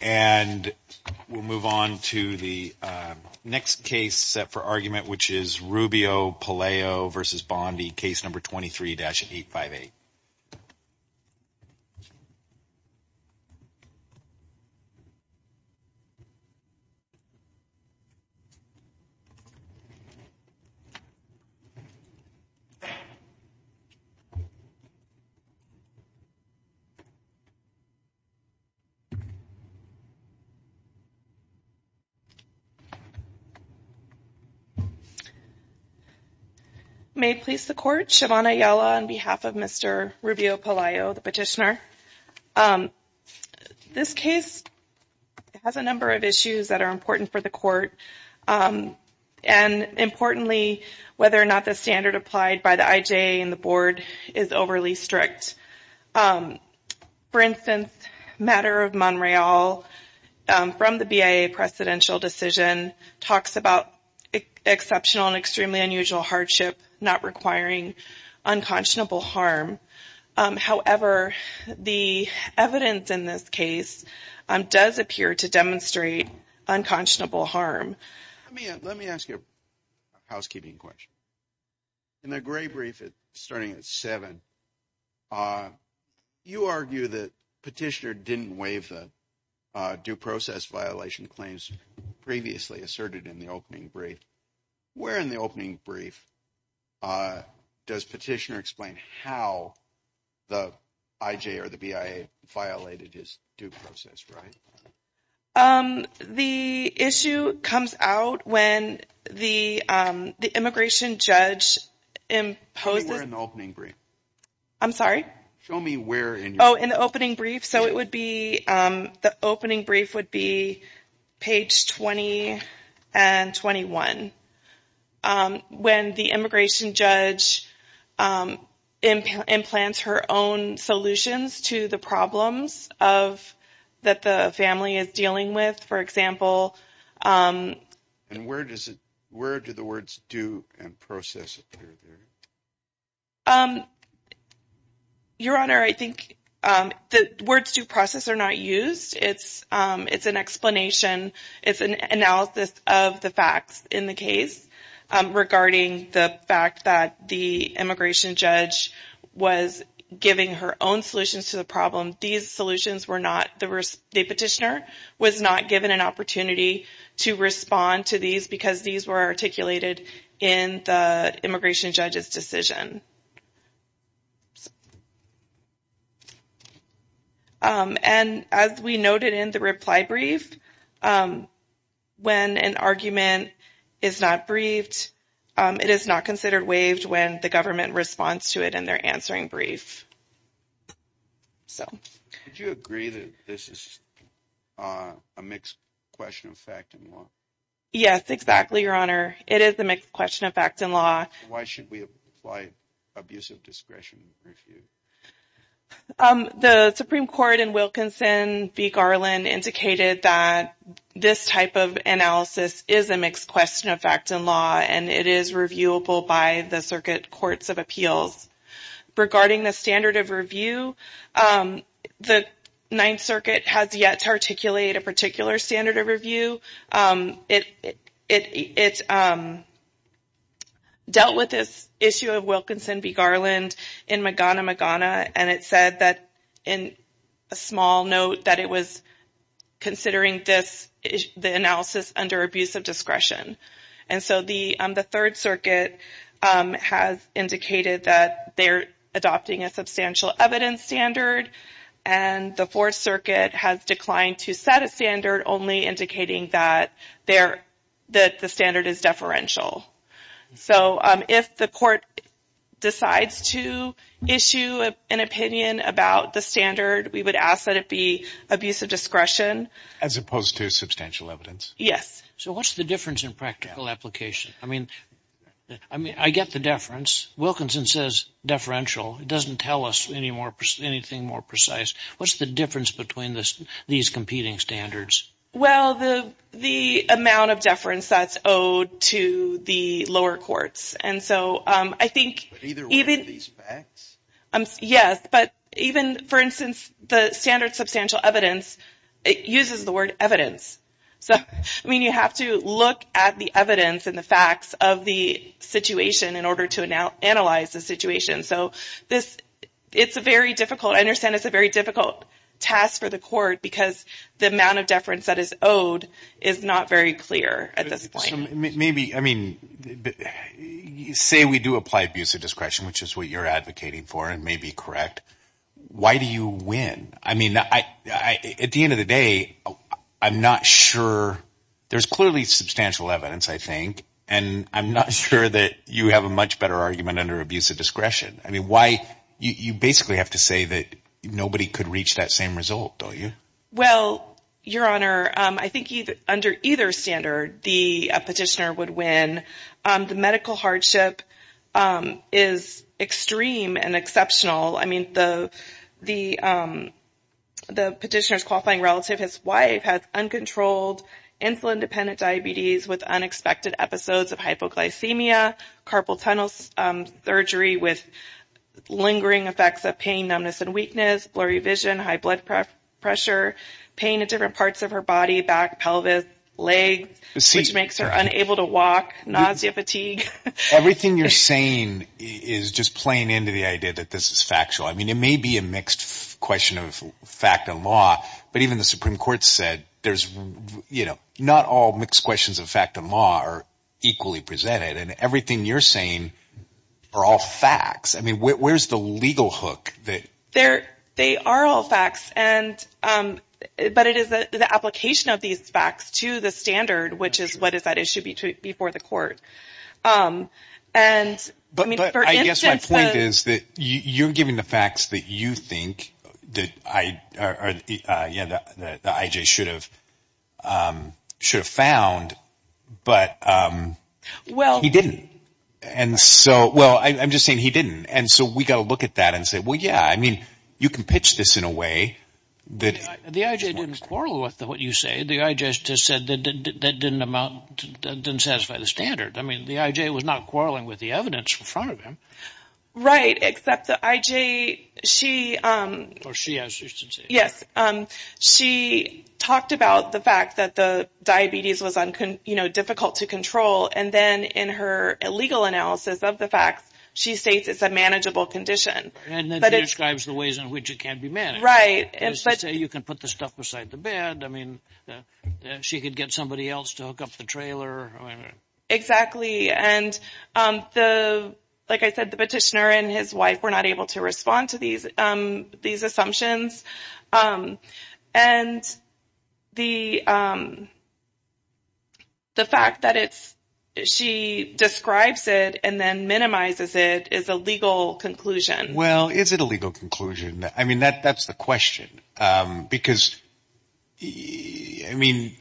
And we'll move on to the next case set for argument, which is Rubio-Pelayo v. Bondi, case number 23-858. May it please the Court, Shavonna Ayala on behalf of Mr. Rubio-Pelayo, the petitioner. This case has a number of issues that are important for the Court. And importantly, whether or not the standard applied by the IJA and the Board is overly strict. For instance, the matter of Monreal from the BIA presidential decision talks about exceptional and extremely unusual hardship not requiring unconscionable harm. However, the evidence in this case does appear to demonstrate unconscionable harm. Let me ask you a housekeeping question. In the gray brief starting at 7, you argue that petitioner didn't waive the due process violation claims previously asserted in the opening brief. Where in the opening brief does petitioner explain how the IJA or the BIA violated his due process right? The issue comes out when the immigration judge imposed... Show me where in the opening brief. I'm sorry? Show me where in... Oh, in the opening brief. So it would be... The opening brief would be page 20 and 21. When the immigration judge implants her own solutions to the problems that the family is dealing with, for example... And where do the words due and process appear? Your Honor, I think the words due process are not used. It's an explanation. It's an analysis of the facts in the case regarding the fact that the immigration judge was giving her own solutions to the problem. These solutions were not... The petitioner was not given an opportunity to respond to these because these were articulated in the immigration judge's decision. And as we noted in the reply brief, when an argument is not briefed, it is not considered waived when the government responds to it in their answering brief. So... Would you agree that this is a mixed question of fact and law? Yes, exactly, Your Honor. It is a mixed question of fact and law. Why should we apply abusive discretion review? The Supreme Court in Wilkinson v. Garland indicated that this type of analysis is a mixed question of fact and law and it is reviewable by the circuit courts of appeals. Regarding the standard of review, the Ninth Circuit has yet to articulate a particular standard of review. It dealt with this issue of Wilkinson v. Garland in Magana Magana and it said that in a small note that it was considering the analysis under abusive discretion. And so the Third Circuit has indicated that they're adopting a substantial evidence standard and the Fourth Circuit has declined to set a standard only indicating that the standard is deferential. So if the court decides to issue an opinion about the standard, we would ask that it be abusive discretion. As opposed to substantial evidence? Yes. So what's the difference in practical application? I mean, I get the deference. Wilkinson says deferential. It doesn't tell us anything more precise. What's the difference between these competing standards? Well, the amount of deference that's owed to the lower courts. And so I think... But either way, these facts... Yes, but even, for instance, the standard substantial evidence, it uses the word evidence. So, I mean, you have to look at the evidence and the facts of the situation in order to analyze the situation. So it's a very difficult... I understand it's a very difficult task for the court because the amount of deference that is owed is not very clear at this point. Maybe... I mean, say we do apply abusive discretion, which is what you're advocating for and may be correct. Why do you win? I mean, at the end of the day, I'm not sure... There's clearly substantial evidence, I think, and I'm not sure that you have a much better argument under abusive discretion. I mean, why... You basically have to say that nobody could reach that same result, don't you? Well, Your Honor, I think under either standard, the petitioner would win. The medical hardship is extreme and exceptional. I mean, the petitioner's qualifying relative, his wife, has uncontrolled insulin-dependent diabetes with unexpected episodes of hypoglycemia, carpal tunnel surgery with lingering effects of pain, numbness, and weakness, blurry vision, high blood pressure, pain in different parts of her body, back, pelvis, legs, which makes her unable to walk, nausea, fatigue. Everything you're saying is just playing into the idea that this is factual. I mean, it may be a mixed question of fact and law, but even the Supreme Court said there's... You know, not all mixed questions of fact and law are equally presented, and everything you're saying are all facts. I mean, where's the legal hook that... They are all facts, but it is the application of these facts to the standard, which is what is at issue before the court. But I guess my point is that you're giving the facts that you think that the IJ should have found, but he didn't. And so, well, I'm just saying he didn't. And so we've got to look at that and say, well, yeah, I mean, you can pitch this in a way that... The IJ didn't quarrel with what you say. The IJ just said that didn't amount, didn't satisfy the standard. I mean, the IJ was not quarreling with the evidence in front of him. Right, except the IJ, she... Or she, as she used to say. Yes, she talked about the fact that the diabetes was, you know, difficult to control. And then in her legal analysis of the facts, she states it's a manageable condition. And then she describes the ways in which it can be managed. Right. You can put the stuff beside the bed. I mean, she could get somebody else to hook up the trailer. Exactly. And the, like I said, the petitioner and his wife were not able to respond to these assumptions. And the fact that it's, she describes it and then minimizes it is a legal conclusion. Well, is it a legal conclusion? I mean, that's the question. Because, I mean,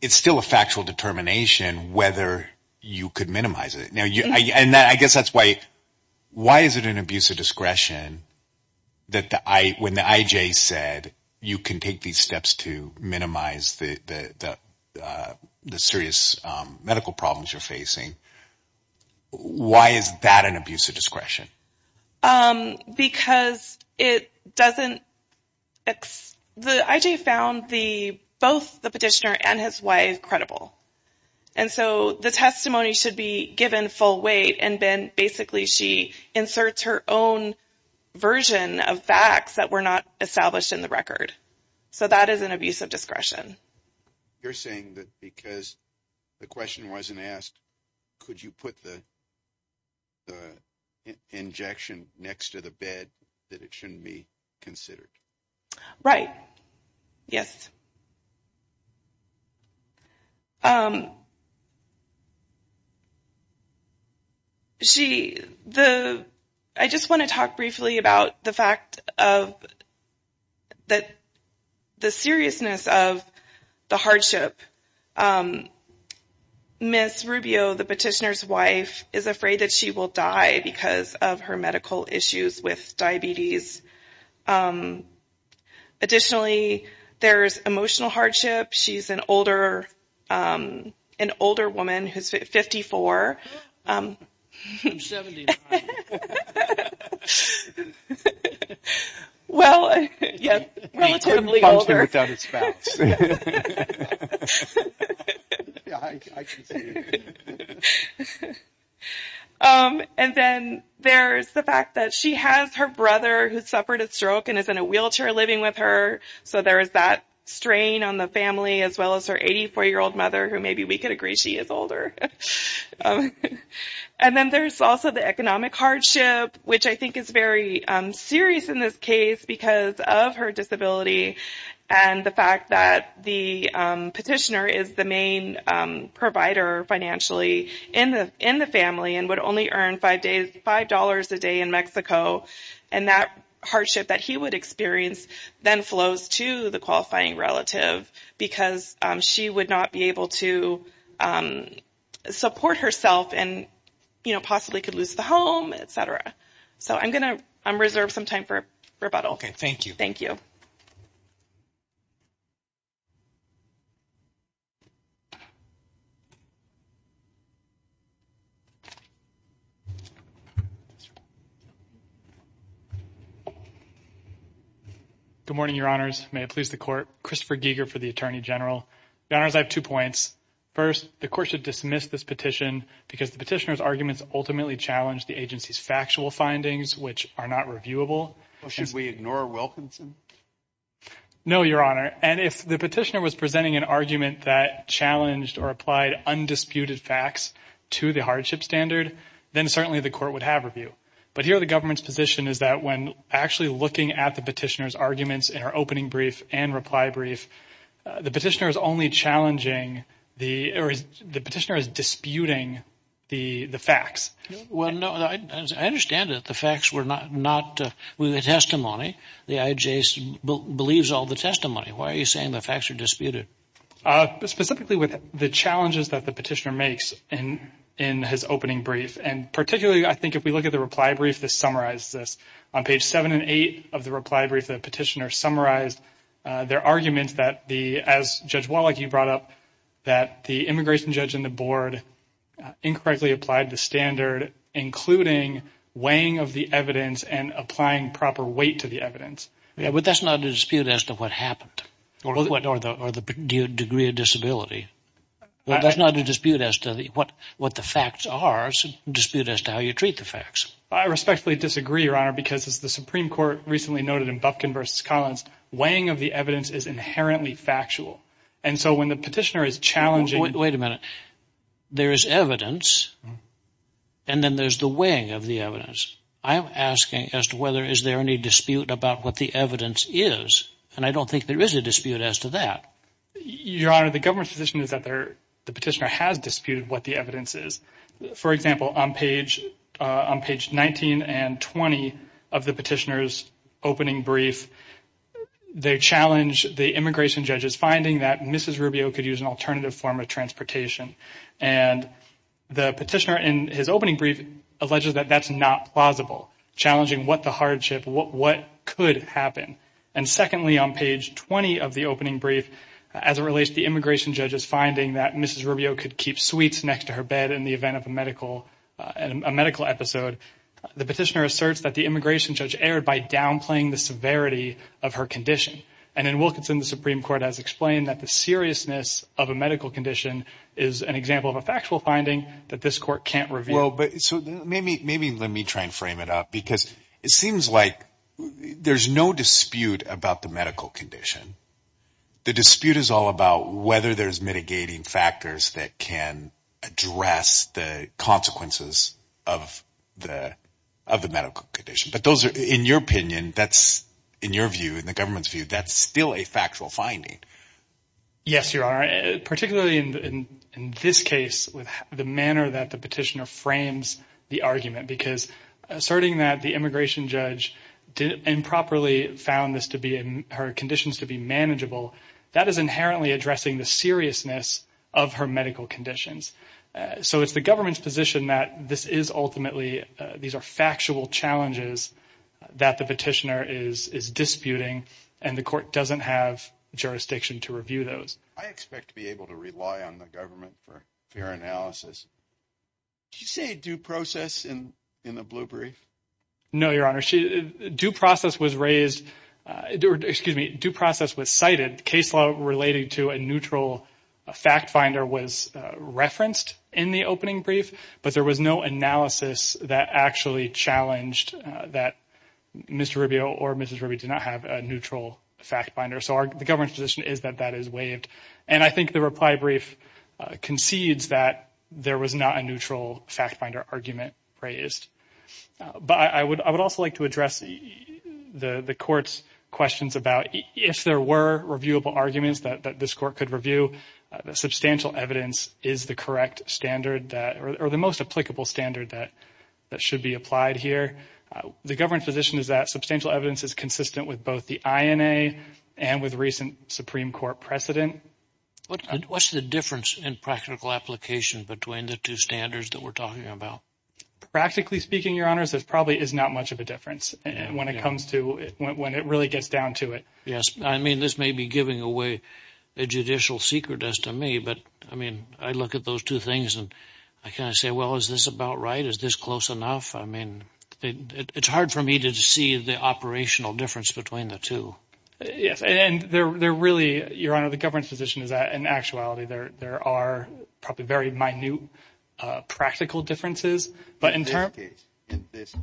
it's still a factual determination whether you could minimize it. And I guess that's why, why is it an abuse of discretion that when the IJ said you can take these steps to minimize the serious medical problems you're facing, why is that an abuse of discretion? Because it doesn't, the IJ found the, both the petitioner and his wife credible. And so the testimony should be given full weight and then basically she inserts her own version of facts that were not established in the record. So that is an abuse of discretion. You're saying that because the question wasn't asked, could you put the injection next to the bed that it shouldn't be considered? Right. Yes. She, the, I just want to talk briefly about the fact of that, the seriousness of the hardship. Ms. Rubio, the petitioner's wife, is afraid that she will die because of her medical issues with diabetes. Additionally, there's emotional hardship. She's an older, an older woman who's 54. I'm 75. Well, yes, relatively older. And then there's the fact that she has her brother who suffered a stroke and is in a wheelchair living with her. So there is that strain on the family, as well as her 84-year-old mother, who maybe we could agree she is older. And then there's also the economic hardship, which I think is very serious in this case because of her disability. And the fact that the petitioner is the main provider financially in the in the family and would only earn five days, five dollars a day in Mexico. And that hardship that he would experience then flows to the qualifying relative because she would not be able to support herself and, you know, possibly could lose the home, et cetera. So I'm going to reserve some time for rebuttal. OK, thank you. Thank you. Good morning, Your Honors. May it please the court. Christopher Giger for the attorney general. I have two points. First, the court should dismiss this petition because the petitioner's arguments ultimately challenge the agency's factual findings, which are not reviewable. Should we ignore Wilkinson? No, Your Honor. And if the petitioner was presenting an argument that challenged or applied undisputed facts to the hardship standard, then certainly the court would have review. But here the government's position is that when actually looking at the petitioner's arguments in our opening brief and reply brief, the petitioner is only challenging the or the petitioner is disputing the facts. Well, no, I understand that the facts were not not with the testimony. The agency believes all the testimony. Why are you saying the facts are disputed? Specifically with the challenges that the petitioner makes in in his opening brief. And particularly, I think if we look at the reply brief, this summarizes this on page seven and eight of the reply brief. The petitioner summarized their arguments that the as Judge Wallach, you brought up that the immigration judge in the board incorrectly applied the standard, including weighing of the evidence and applying proper weight to the evidence. Yeah, but that's not a dispute as to what happened or what or the or the degree of disability. That's not a dispute as to what what the facts are, a dispute as to how you treat the facts. I respectfully disagree, Your Honor, because it's the Supreme Court recently noted in Bufkin versus Collins. Weighing of the evidence is inherently factual. And so when the petitioner is challenging. Wait a minute. There is evidence. And then there's the weighing of the evidence. I'm asking as to whether is there any dispute about what the evidence is. And I don't think there is a dispute as to that. Your Honor, the government position is that there the petitioner has disputed what the evidence is. For example, on page on page 19 and 20 of the petitioner's opening brief, they challenge the immigration judge's finding that Mrs. Rubio could use an alternative form of transportation. And the petitioner in his opening brief alleges that that's not plausible, challenging what the hardship what what could happen. And secondly, on page 20 of the opening brief, as it relates to the immigration judge's finding that Mrs. Rubio could keep sweets next to her bed in the event of a medical and a medical episode. The petitioner asserts that the immigration judge erred by downplaying the severity of her condition. And in Wilkinson, the Supreme Court has explained that the seriousness of a medical condition is an example of a factual finding that this court can't reveal. So maybe maybe let me try and frame it up, because it seems like there's no dispute about the medical condition. The dispute is all about whether there's mitigating factors that can address the consequences of the of the medical condition. But those are, in your opinion, that's in your view, in the government's view, that's still a factual finding. Yes, you are, particularly in this case, with the manner that the petitioner frames the argument, because asserting that the immigration judge improperly found this to be in her conditions to be manageable. That is inherently addressing the seriousness of her medical conditions. So it's the government's position that this is ultimately these are factual challenges that the petitioner is disputing and the court doesn't have jurisdiction to review those. I expect to be able to rely on the government for fair analysis. You say due process in in the blue brief. No, Your Honor, due process was raised or excuse me, due process was cited. Case law relating to a neutral fact finder was referenced in the opening brief, but there was no analysis that actually challenged that Mr. Rubio or Mrs. Ruby did not have a neutral fact finder. So the government's position is that that is waived. And I think the reply brief concedes that there was not a neutral fact finder argument raised. But I would I would also like to address the court's questions about if there were reviewable arguments that this court could review. Substantial evidence is the correct standard or the most applicable standard that that should be applied here. The government position is that substantial evidence is consistent with both the INA and with recent Supreme Court precedent. What's the difference in practical application between the two standards that we're talking about? Practically speaking, Your Honors, there probably is not much of a difference when it comes to when it really gets down to it. Yes. I mean, this may be giving away a judicial secret as to me, but I mean, I look at those two things and I kind of say, well, is this about right? Is this close enough? I mean, it's hard for me to see the operational difference between the two. Yes. And they're really, Your Honor, the government's position is that in actuality, there are probably very minute practical differences. But in this case,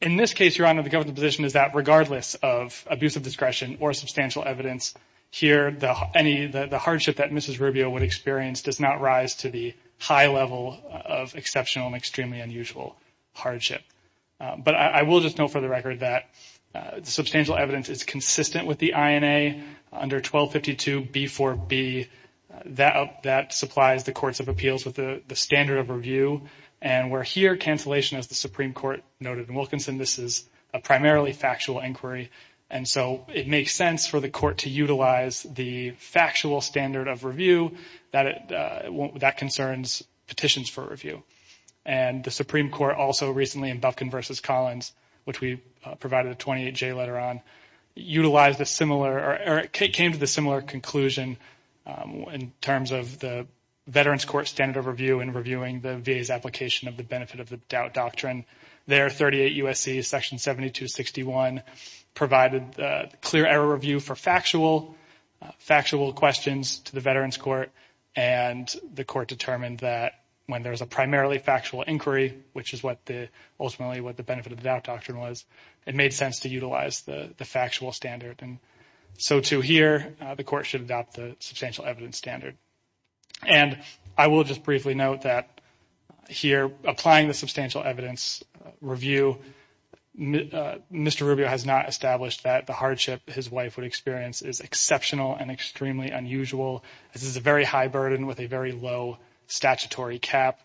in this case, Your Honor, the government position is that regardless of abuse of discretion or substantial evidence here, the hardship that Mrs. Rubio would experience does not rise to the high level of exceptional and extremely unusual hardship. But I will just note for the record that the substantial evidence is consistent with the INA under 1252b4b. That supplies the courts of appeals with the standard of review. And we're here, cancellation as the Supreme Court noted in Wilkinson, this is a primarily factual inquiry. And so it makes sense for the court to utilize the factual standard of review that concerns petitions for review. And the Supreme Court also recently in Bufkin versus Collins, which we provided a 28-J letter on, utilized a similar or came to the similar conclusion in terms of the Veterans Court standard of review and reviewing the VA's application of the benefit of the doubt doctrine. And there, 38 U.S.C. section 7261 provided clear error review for factual questions to the Veterans Court. And the court determined that when there's a primarily factual inquiry, which is ultimately what the benefit of the doubt doctrine was, it made sense to utilize the factual standard. And so, too, here, the court should adopt the substantial evidence standard. And I will just briefly note that here applying the substantial evidence review, Mr. Rubio has not established that the hardship his wife would experience is exceptional and extremely unusual. This is a very high burden with a very low statutory cap.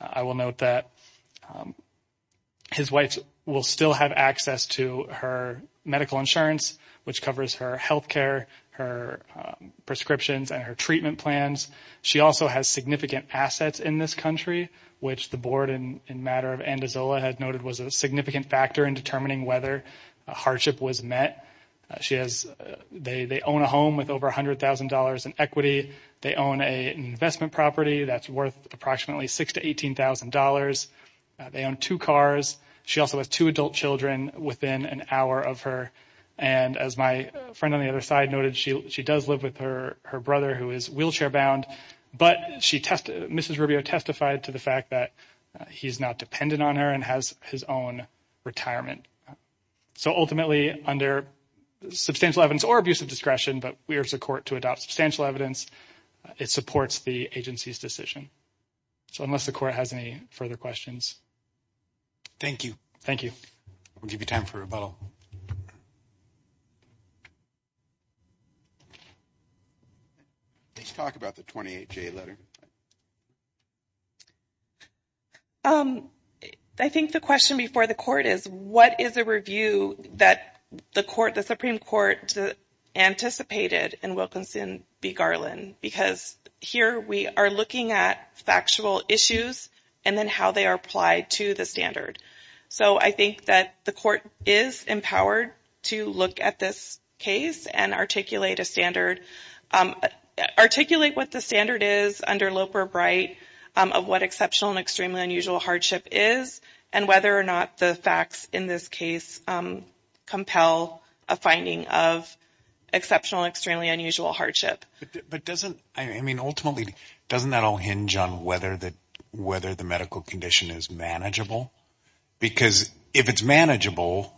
I will note that his wife will still have access to her medical insurance, which covers her health care, her prescriptions and her treatment plans. She also has significant assets in this country, which the board in matter of Andazola had noted was a significant factor in determining whether a hardship was met. She has they own a home with over $100,000 in equity. They own an investment property that's worth approximately $6,000 to $18,000. They own two cars. She also has two adult children within an hour of her. And as my friend on the other side noted, she does live with her brother who is wheelchair bound. But she tested. Mrs. Rubio testified to the fact that he's not dependent on her and has his own retirement. So ultimately, under substantial evidence or abuse of discretion, but we are support to adopt substantial evidence. It supports the agency's decision. So unless the court has any further questions. Thank you. Thank you. We'll give you time for rebuttal. Let's talk about the 28 J letter. I think the question before the court is what is a review that the court, the Supreme Court anticipated in Wilkinson v. Garland? Because here we are looking at factual issues and then how they are applied to the standard. So I think that the court is empowered to look at this case and articulate a standard, articulate what the standard is under Loper Bright of what exceptional and extremely unusual hardship is, and whether or not the facts in this case compel a finding of exceptional and extremely unusual hardship. But doesn't, I mean, ultimately, doesn't that all hinge on whether the medical condition is manageable? Because if it's manageable,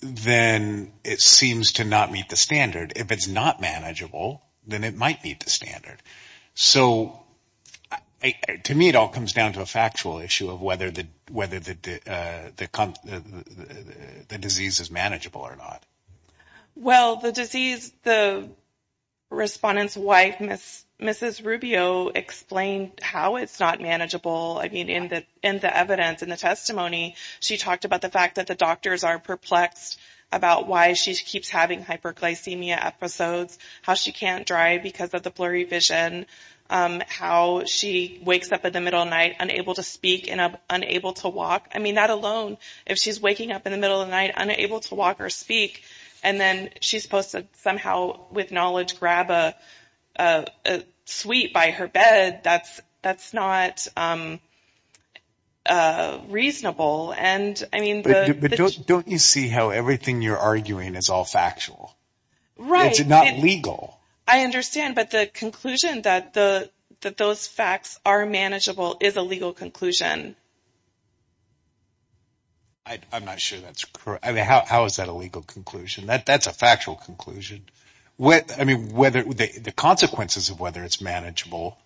then it seems to not meet the standard. If it's not manageable, then it might meet the standard. So to me, it all comes down to a factual issue of whether the disease is manageable or not. Well, the disease, the respondent's wife, Mrs. Rubio, explained how it's not manageable. I mean, in the evidence, in the testimony, she talked about the fact that the doctors are perplexed about why she keeps having hyperglycemia episodes, how she can't drive because of the blurry vision, how she wakes up in the middle of the night unable to speak and unable to walk. I mean, that alone, if she's waking up in the middle of the night unable to walk or speak, and then she's supposed to somehow, with knowledge, grab a suite by her bed, that's not reasonable. But don't you see how everything you're arguing is all factual? It's not legal. I understand, but the conclusion that those facts are manageable is a legal conclusion. I'm not sure that's correct. I mean, how is that a legal conclusion? That's a factual conclusion. I mean, the consequences of whether it's manageable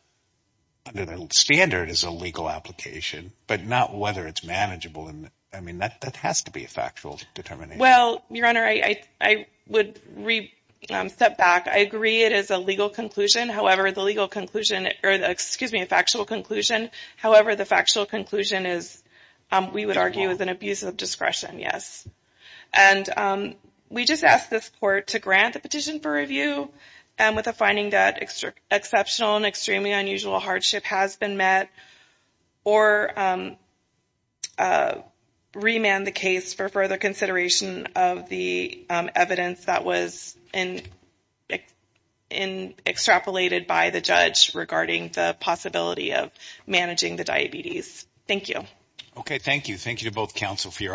under the standard is a legal application, but not whether it's manageable. I mean, that has to be a factual determination. Well, Your Honor, I would step back. I agree it is a legal conclusion. However, the legal conclusion, or excuse me, a factual conclusion. However, the factual conclusion is, we would argue, is an abuse of discretion, yes. And we just ask this Court to grant the petition for review with a finding that exceptional and extremely unusual hardship has been met, or remand the case for further consideration of the evidence that was extrapolated by the judge regarding the possibility of managing the diabetes. Thank you. Okay, thank you. Thank you to both counsel for your arguments.